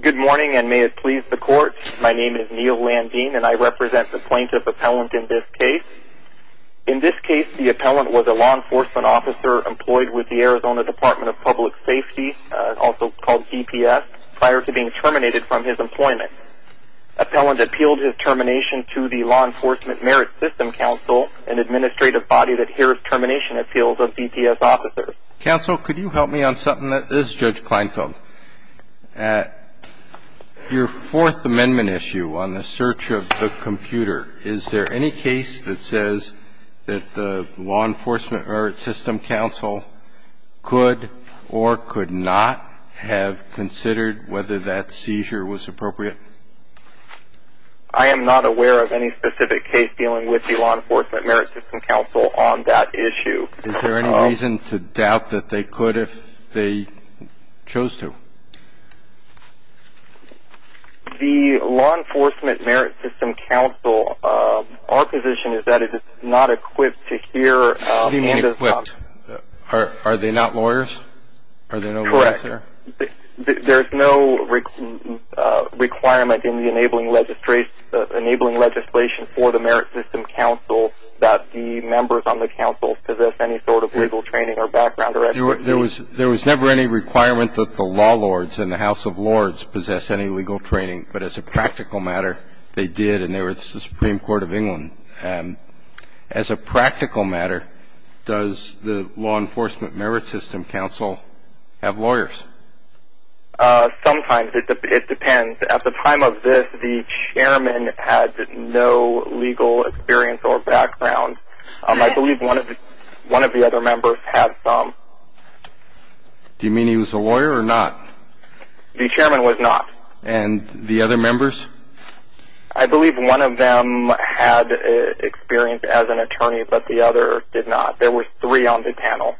Good morning and may it please the court. My name is Neil Landin and I represent the plaintiff appellant in this case. In this case, the appellant was a law enforcement officer employed with the Arizona Department of Public Safety, also called DPS, prior to being terminated from his employment. Appellant appealed his termination to the Law Enforcement Merit System Council, an administrative body that hears termination appeals of DPS officers. Counsel, could you help me on something? This is Judge Kleinfeld. At your Fourth Amendment issue on the search of the computer, is there any case that says that the Law Enforcement Merit System Council could or could not have considered whether that seizure was appropriate? I am not aware of any specific case dealing with the Law Enforcement Merit System Council on that issue. Is there any reason to doubt that they could if they chose to? The Law Enforcement Merit System Council, our position is that it is not equipped to hear... What do you mean equipped? Are they not lawyers? Are there no lawyers there? Correct. There is no requirement in the enabling legislation for the Merit System Council that the members on the council possess any sort of legal training or background. There was never any requirement that the law lords in the House of Lords possess any legal training, but as a practical matter, they did, and they were the Supreme Court of England. As a practical matter, does the Law Enforcement Merit System Council have lawyers? Sometimes. It depends. At the time of this, the chairman had no legal experience or background. I believe one of the other members had some. Do you mean he was a lawyer or not? The chairman was not. And the other members? I believe one of them had experience as an attorney, but the other did not. There were three on the panel.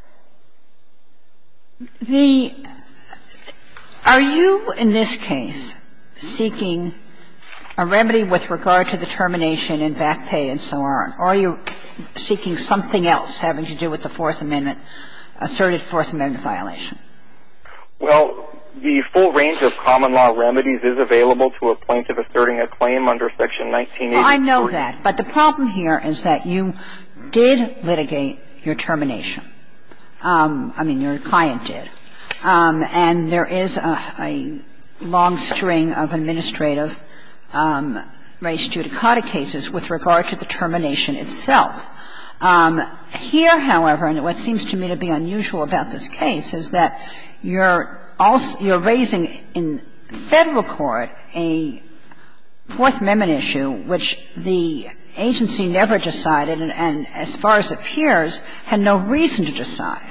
Are you, in this case, seeking a remedy with regard to the termination and back pay and so on, or are you seeking something else having to do with the Fourth Amendment, asserted Fourth Amendment violation? Well, the full range of common law remedies is available to a plaintiff asserting a claim under Section 1984. Well, I know that, but the problem here is that you did litigate your termination. I mean, your client did. And there is a long string of administrative race judicata cases with regard to the termination itself. Here, however, and what seems to me to be unusual about this case, is that you're raising in Federal court a Fourth Amendment issue which the agency never decided and, as far as it appears, had no reason to decide.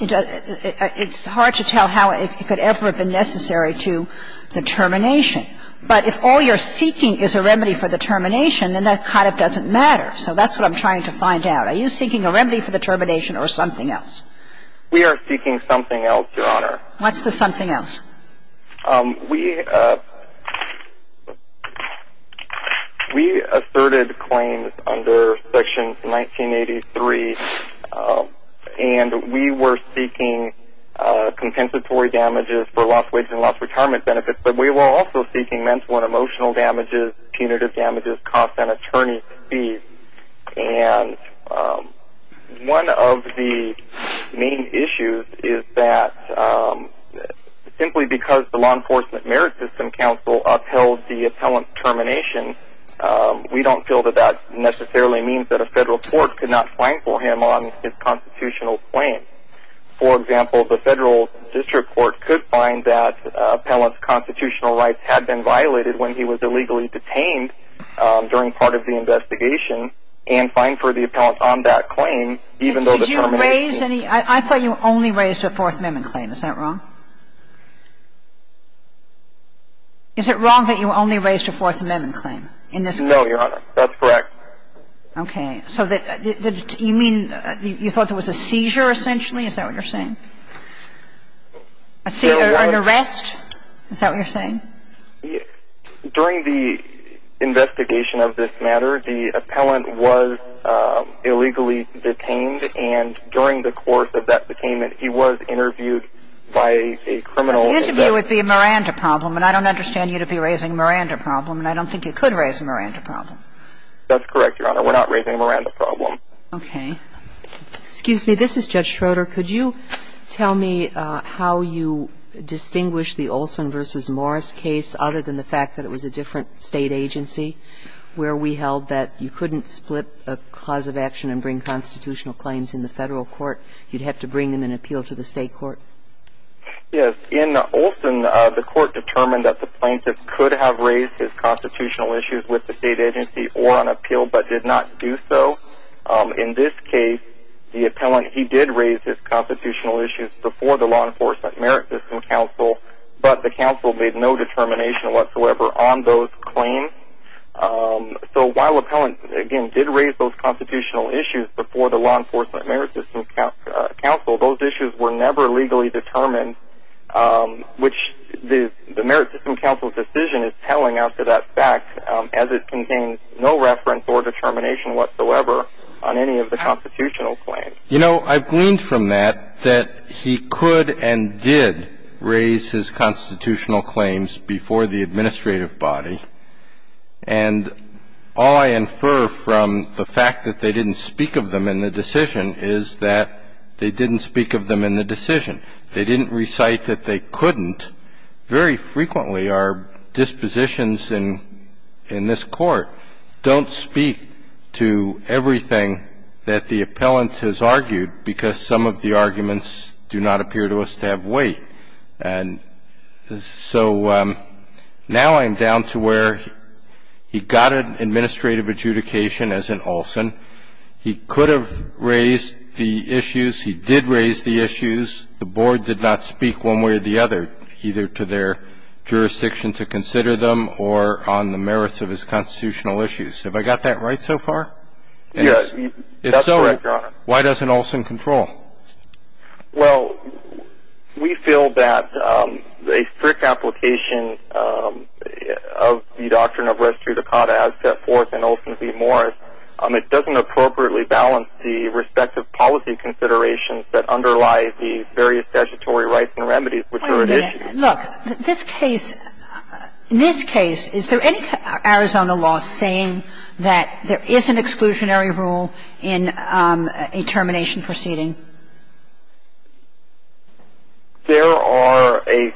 It's hard to tell how it could ever have been necessary to the termination. But if all you're seeking is a remedy for the termination, then that kind of doesn't matter. So that's what I'm trying to find out. Are you seeking a remedy for the termination or something else? We are seeking something else, Your Honor. What's the something else? We asserted claims under Section 1983. And we were seeking compensatory damages for lost wage and lost retirement benefits. But we were also seeking mental and emotional damages, punitive damages, costs on attorney fees. And one of the main issues is that simply because the Law Enforcement Merit System counsel upheld the appellant's termination, we don't feel that that necessarily means that a Federal court could not find for him on his constitutional claim. For example, the Federal district court could find that appellant's constitutional rights had been on that claim, even though the termination... Did you raise any? I thought you only raised a Fourth Amendment claim. Is that wrong? Is it wrong that you only raised a Fourth Amendment claim in this case? No, Your Honor. That's correct. Okay. So you mean you thought there was a seizure, essentially? Is that what you're saying? A seizure, an arrest? Is that what you're saying? During the investigation of this matter, the appellant was illegally detained. And during the course of that detainment, he was interviewed by a criminal... An interview would be a Miranda problem. And I don't understand you to be raising a Miranda problem. And I don't think you could raise a Miranda problem. That's correct, Your Honor. We're not raising a Miranda problem. Okay. Excuse me. This is Judge Schroeder. Could you tell me how you distinguish the Olson v. Morris case, other than the fact that it was a different state agency, where we held that you couldn't split a cause of action and bring constitutional claims in the Federal court. You'd have to bring them in appeal to the state court. Yes. In Olson, the court determined that the plaintiff could have raised his constitutional issues with the state agency or on appeal, but did not do so. In this case, the appellant, he did raise his constitutional issues before the Law Enforcement Merit System counsel, but the counsel made no determination whatsoever on those claims. So while the appellant, again, did raise those constitutional issues before the Law Enforcement Merit System counsel, those issues were never legally determined, which the Merit System counsel's decision is telling after that fact, as it contains no reference or determination whatsoever on any of the constitutional claims. You know, I've gleaned from that that he could and did raise his constitutional claims before the administrative body, and all I infer from the fact that they didn't speak of them in the decision is that they didn't speak of them in the decision. They didn't recite that they couldn't. Very frequently, our dispositions in this Court don't speak to everything that the appellant has argued because some of the arguments do not appear to us to have weight. And so now I'm down to where he got an administrative adjudication, as in Olson. He could have raised the issues. He did raise the issues. The board did not speak one way or the other, either to their jurisdiction to consider them or on the merits of his constitutional issues. Have I got that right so far? Yes, that's correct, Your Honor. If so, why doesn't Olson control? Well, we feel that a strict application of the doctrine of res judicata as set forth in Olson v. Morris, it doesn't appropriately balance the respective policy considerations that underlie the various statutory rights and remedies which are at issue. Wait a minute. Look, in this case, is there any Arizona law saying that there is an exclusionary rule in a termination proceeding? There are a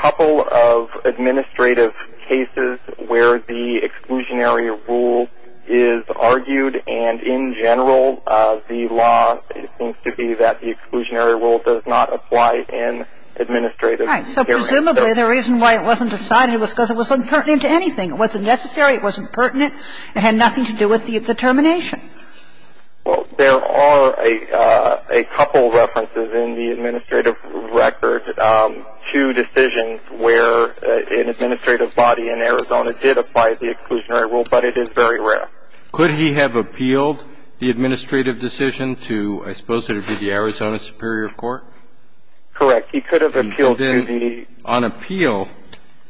couple of administrative cases where the exclusionary rule is argued, and in general the law seems to be that the exclusionary rule does not apply in administrative areas. Right. So presumably the reason why it wasn't decided was because it was impertinent to anything. It wasn't necessary. It wasn't pertinent. It had nothing to do with the termination. Well, there are a couple of references in the administrative record to decisions where an administrative body in Arizona did apply the exclusionary rule, but it is very rare. Could he have appealed the administrative decision to, I suppose it would be the Arizona Superior Court? Correct. He could have appealed to the... And then on appeal,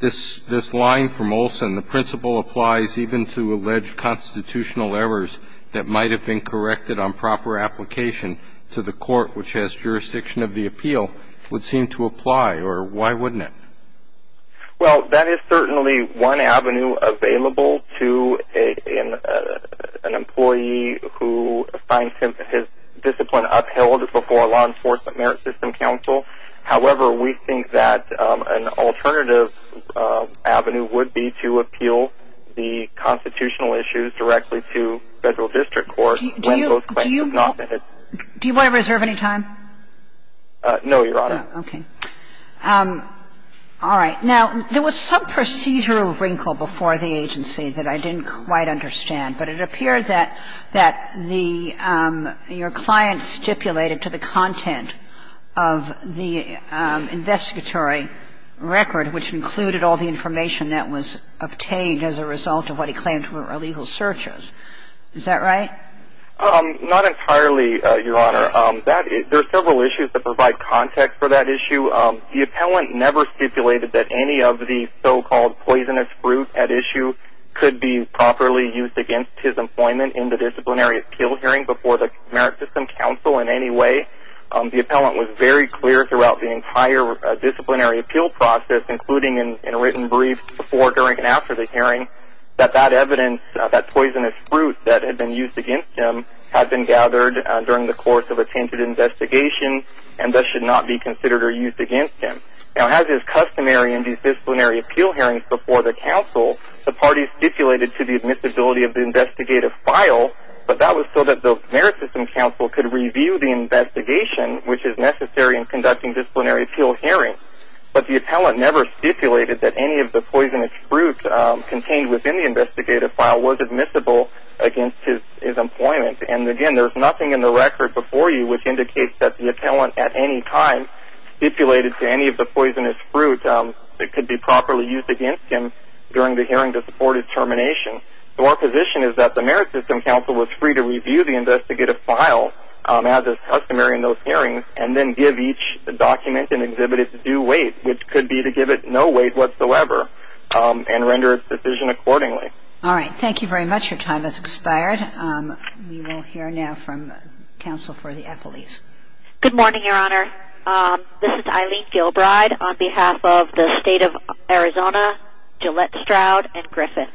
this line from Olson, the principle applies even to alleged constitutional errors that might have been corrected on proper application to the court which has jurisdiction of the appeal, would seem to apply, or why wouldn't it? Well, that is certainly one avenue available to an employee who finds his discipline upheld before a law enforcement merit system counsel. However, we think that an alternative avenue would be to appeal the constitutional issues directly to federal district court when those claims have not been... Do you want to reserve any time? No, Your Honor. Okay. All right. Now, there was some procedural wrinkle before the agency that I didn't quite understand, but it appeared that the, your client stipulated to the content of the investigatory record which included all the information that was obtained as a result of what he claimed were illegal searches. Is that right? Not entirely, Your Honor. There are several issues that provide context for that issue. The appellant never stipulated that any of the so-called poisonous fruit at issue could be properly used against his employment in the disciplinary appeal hearing before the merit system counsel in any way. The appellant was very clear throughout the entire disciplinary appeal process, including in a written brief before, during, and after the hearing, that that evidence, that poisonous fruit that had been used against him, had been gathered during the course of a tainted investigation and thus should not be considered or used against him. Now, as is customary in these disciplinary appeal hearings before the counsel, the parties stipulated to the admissibility of the investigative file, but that was so that the merit system counsel could review the investigation which is necessary in conducting disciplinary appeal hearings. But the appellant never stipulated that any of the poisonous fruit contained within the investigative file was admissible against his employment. And again, there's nothing in the record before you which indicates that the appellant at any time stipulated to any of the poisonous fruit that could be properly used against him during the hearing to support his termination. So our position is that the merit system counsel was free to review the investigative file, as is customary in those hearings, and then give each document and exhibit its due weight, which could be to give it no weight whatsoever and render its decision accordingly. All right. Thank you very much. Your time has expired. We will hear now from counsel for the appellees. Good morning, Your Honor. This is Eileen Gilbride on behalf of the State of Arizona, Gillette Stroud and Griffiths.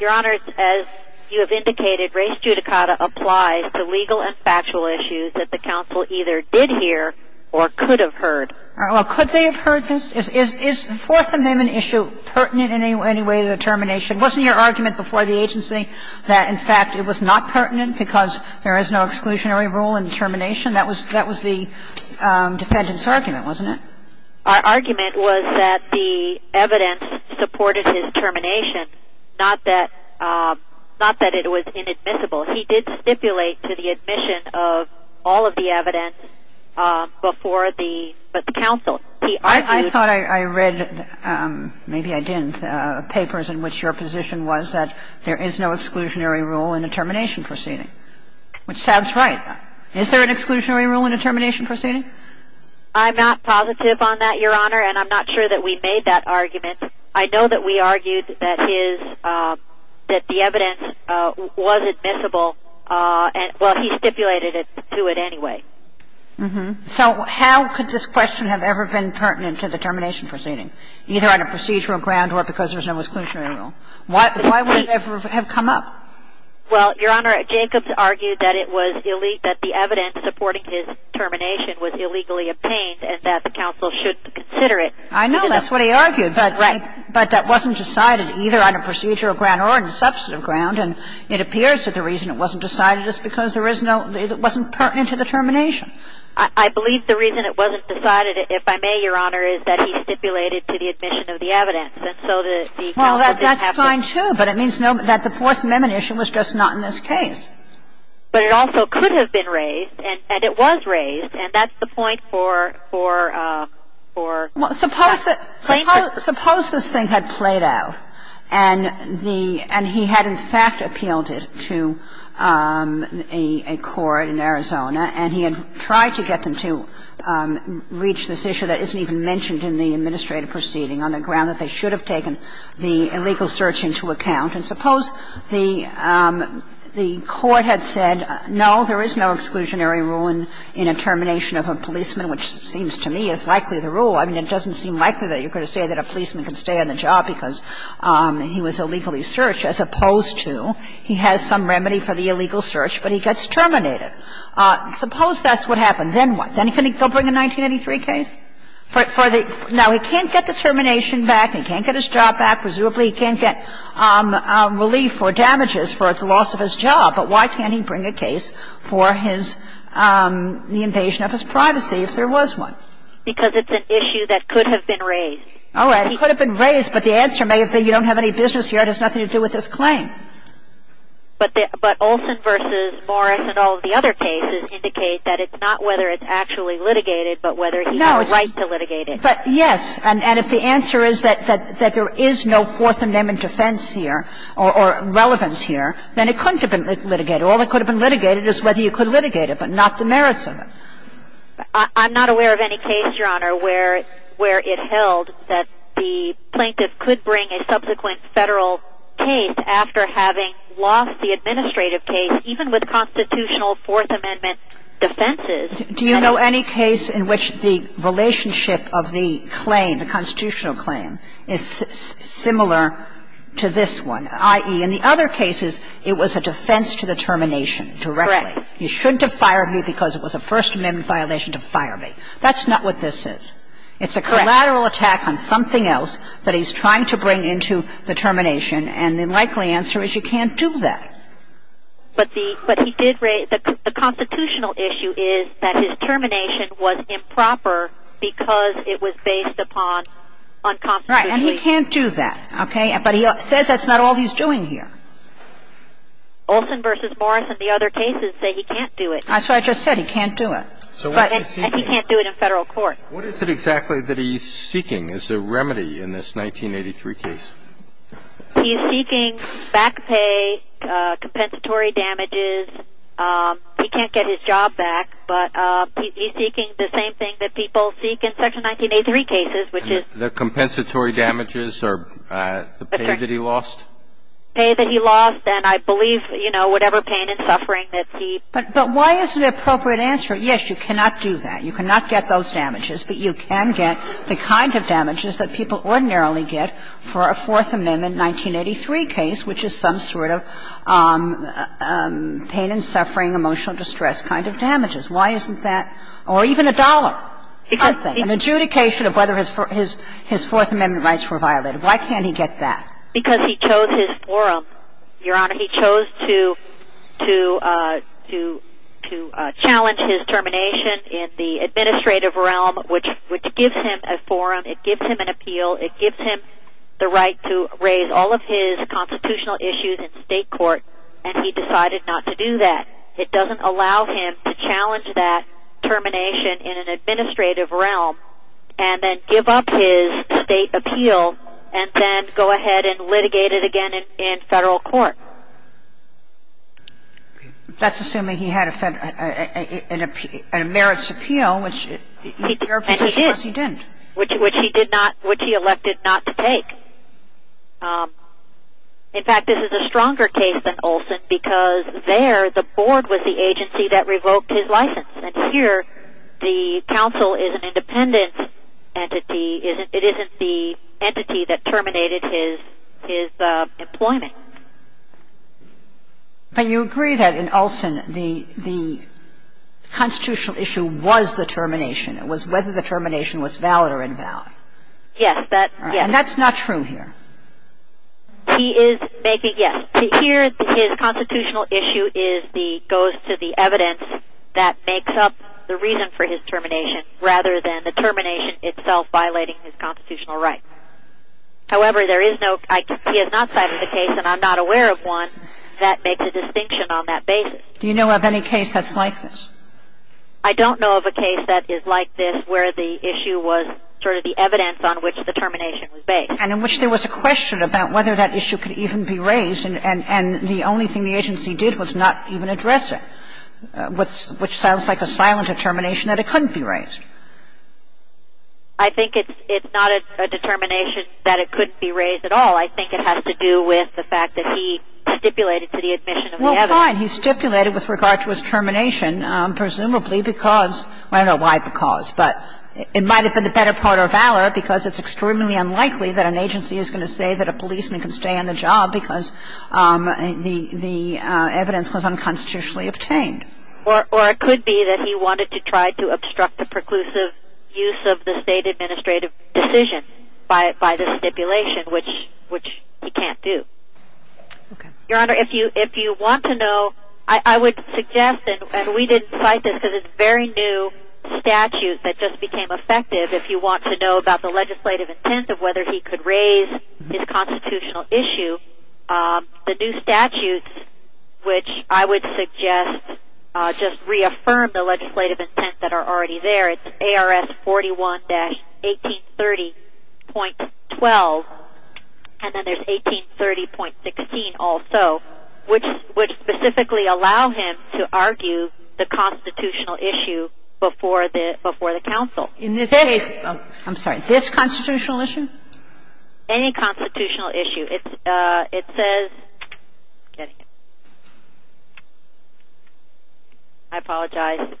Your Honor, as you have indicated, race judicata applies to legal and factual issues that the counsel either did hear or could have heard. All right. Well, could they have heard this? Is the Fourth Amendment issue pertinent in any way to the termination? Wasn't your argument before the agency that, in fact, it was not pertinent because there is no exclusionary rule in termination? That was the defendant's argument, wasn't it? Our argument was that the evidence supported his termination, not that it was inadmissible. He did stipulate to the admission of all of the evidence before the counsel. I thought I read, maybe I didn't, papers in which your position was that there is no Is there an exclusionary rule in a termination proceeding? I'm not positive on that, Your Honor, and I'm not sure that we made that argument. I know that we argued that the evidence was admissible. Well, he stipulated to it anyway. So how could this question have ever been pertinent to the termination proceeding, either on a procedural ground or because there's no exclusionary rule? Why would it ever have come up? Well, Your Honor, Jacobs argued that the evidence supporting his termination was illegally obtained and that the counsel should consider it. I know. That's what he argued. Right. But that wasn't decided either on a procedural ground or on a substantive ground, and it appears that the reason it wasn't decided is because it wasn't pertinent to the termination. I believe the reason it wasn't decided, if I may, Your Honor, is that he stipulated to the admission of the evidence, and so the counsel didn't have to But it also could have been raised, and it was raised, and that's the point for the plaintiff. Suppose this thing had played out and he had, in fact, appealed it to a court in Arizona and he had tried to get them to reach this issue that isn't even mentioned in the administrative proceeding on the ground that they should have taken the illegal search into account and suppose the court had said, no, there is no exclusionary rule in a termination of a policeman, which seems to me is likely the rule. I mean, it doesn't seem likely that you're going to say that a policeman can stay on the job because he was illegally searched as opposed to he has some remedy for the illegal search, but he gets terminated. Suppose that's what happened. Then what? Then can he go bring a 1983 case? Now, he can't get the termination back. He can't get his job back. Presumably he can't get relief or damages for the loss of his job. But why can't he bring a case for the invasion of his privacy if there was one? Because it's an issue that could have been raised. All right. It could have been raised, but the answer may have been you don't have any business here. It has nothing to do with this claim. But Olson v. Morris and all of the other cases indicate that it's not whether it's actually litigated but whether he has a right to litigate it. But yes. And if the answer is that there is no Fourth Amendment defense here or relevance here, then it couldn't have been litigated. All that could have been litigated is whether you could litigate it but not the merits of it. I'm not aware of any case, Your Honor, where it held that the plaintiff could bring a subsequent Federal case after having lost the administrative case even with constitutional Fourth Amendment defenses. Do you know any case in which the relationship of the claim, the constitutional claim, is similar to this one, i.e., in the other cases, it was a defense to the termination directly. Correct. You shouldn't have fired me because it was a First Amendment violation to fire me. That's not what this is. Correct. It's a collateral attack on something else that he's trying to bring into the termination, and the likely answer is you can't do that. But the constitutional issue is that his termination was improper because it was based upon unconstitutional. Right. And he can't do that. Okay. But he says that's not all he's doing here. Olson v. Morris and the other cases say he can't do it. That's what I just said. He can't do it. And he can't do it in Federal court. What is it exactly that he's seeking as a remedy in this 1983 case? He's seeking back pay, compensatory damages. He can't get his job back. But he's seeking the same thing that people seek in Section 1983 cases, which is The compensatory damages or the pay that he lost? Pay that he lost and, I believe, you know, whatever pain and suffering that he But why isn't the appropriate answer, yes, you cannot do that. You cannot get those damages. But you can get the kind of damages that people ordinarily get for a Fourth Amendment 1983 case, which is some sort of pain and suffering, emotional distress kind of damages. Why isn't that? Or even a dollar, something, an adjudication of whether his Fourth Amendment rights were violated. Why can't he get that? Because he chose his forum, Your Honor. He chose to challenge his termination in the administrative realm, which gives him a forum. It gives him an appeal. It gives him the right to raise all of his constitutional issues in state court. And he decided not to do that. It doesn't allow him to challenge that termination in an administrative realm and then give up his state appeal and then go ahead and litigate it again in federal court. That's assuming he had a merits appeal, which in your position, of course, he didn't. Which he did not, which he elected not to take. In fact, this is a stronger case than Olson because there the board was the agency that revoked his license. And here the counsel is an independent entity. It isn't the entity that terminated his employment. But you agree that in Olson the constitutional issue was the termination. It was whether the termination was valid or invalid. Yes. And that's not true here. He is making, yes. Here his constitutional issue goes to the evidence that makes up the reason for his termination rather than the termination itself violating his constitutional rights. However, there is no, he has not cited a case, and I'm not aware of one, that makes a distinction on that basis. Do you know of any case that's like this? I don't know of a case that is like this where the issue was sort of the evidence on which the termination was based. And in which there was a question about whether that issue could even be raised. And the only thing the agency did was not even address it. Which sounds like a silent determination that it couldn't be raised. I think it's not a determination that it couldn't be raised at all. I think it has to do with the fact that he stipulated to the admission of the evidence. Well, fine. He stipulated with regard to his termination presumably because, I don't know why because. But it might have been the better part of valor because it's extremely unlikely that an agency is going to say that a policeman can stay on the job because the evidence was unconstitutionally obtained. Or it could be that he wanted to try to obstruct the preclusive use of the state administrative decision by the stipulation, which he can't do. Okay. And we didn't cite this because it's a very new statute that just became effective. If you want to know about the legislative intent of whether he could raise his constitutional issue, the new statute, which I would suggest just reaffirm the legislative intent that are already there. It's ARS 41-1830.12. And then there's 1830.16 also, which specifically allow him to argue the constitutional issue before the council. In this case, I'm sorry, this constitutional issue? Any constitutional issue. It says, I'm getting it. I apologize.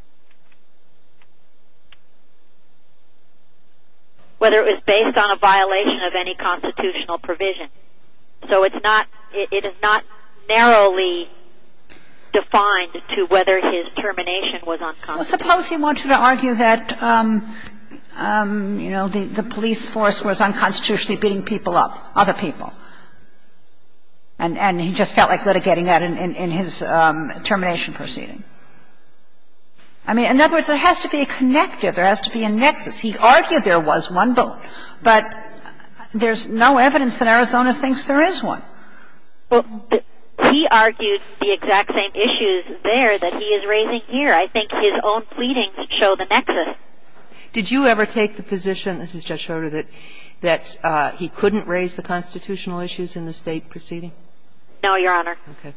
Whether it was based on a violation of any constitutional provision. So it's not, it is not narrowly defined to whether his termination was unconstitutional. Suppose he wanted to argue that, you know, the police force was unconstitutionally beating people up, other people. And he just felt like litigating that in his termination proceeding. I mean, in other words, there has to be a connective. There has to be a nexus. He argued there was one, but there's no evidence that Arizona thinks there is one. Well, he argued the exact same issues there that he is raising here. I think his own pleadings show the nexus. Did you ever take the position, this is Judge Schroeder, that he couldn't raise the constitutional issues in the State proceeding? No, Your Honor. Okay.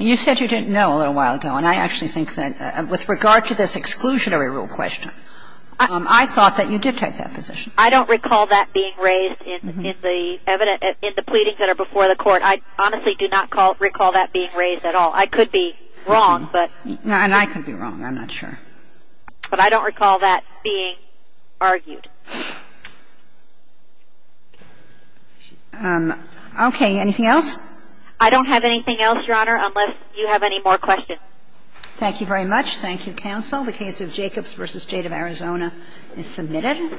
You said you didn't know a little while ago. And I actually think that with regard to this exclusionary rule question, I thought that you did take that position. I don't recall that being raised in the evidence, in the pleadings that are before the court. I honestly do not recall that being raised at all. I could be wrong, but. And I could be wrong. I'm not sure. But I don't recall that being argued. Okay. Anything else? I don't have anything else, Your Honor, unless you have any more questions. Thank you very much. Thank you, counsel. The case of Jacobs v. State of Arizona is submitted.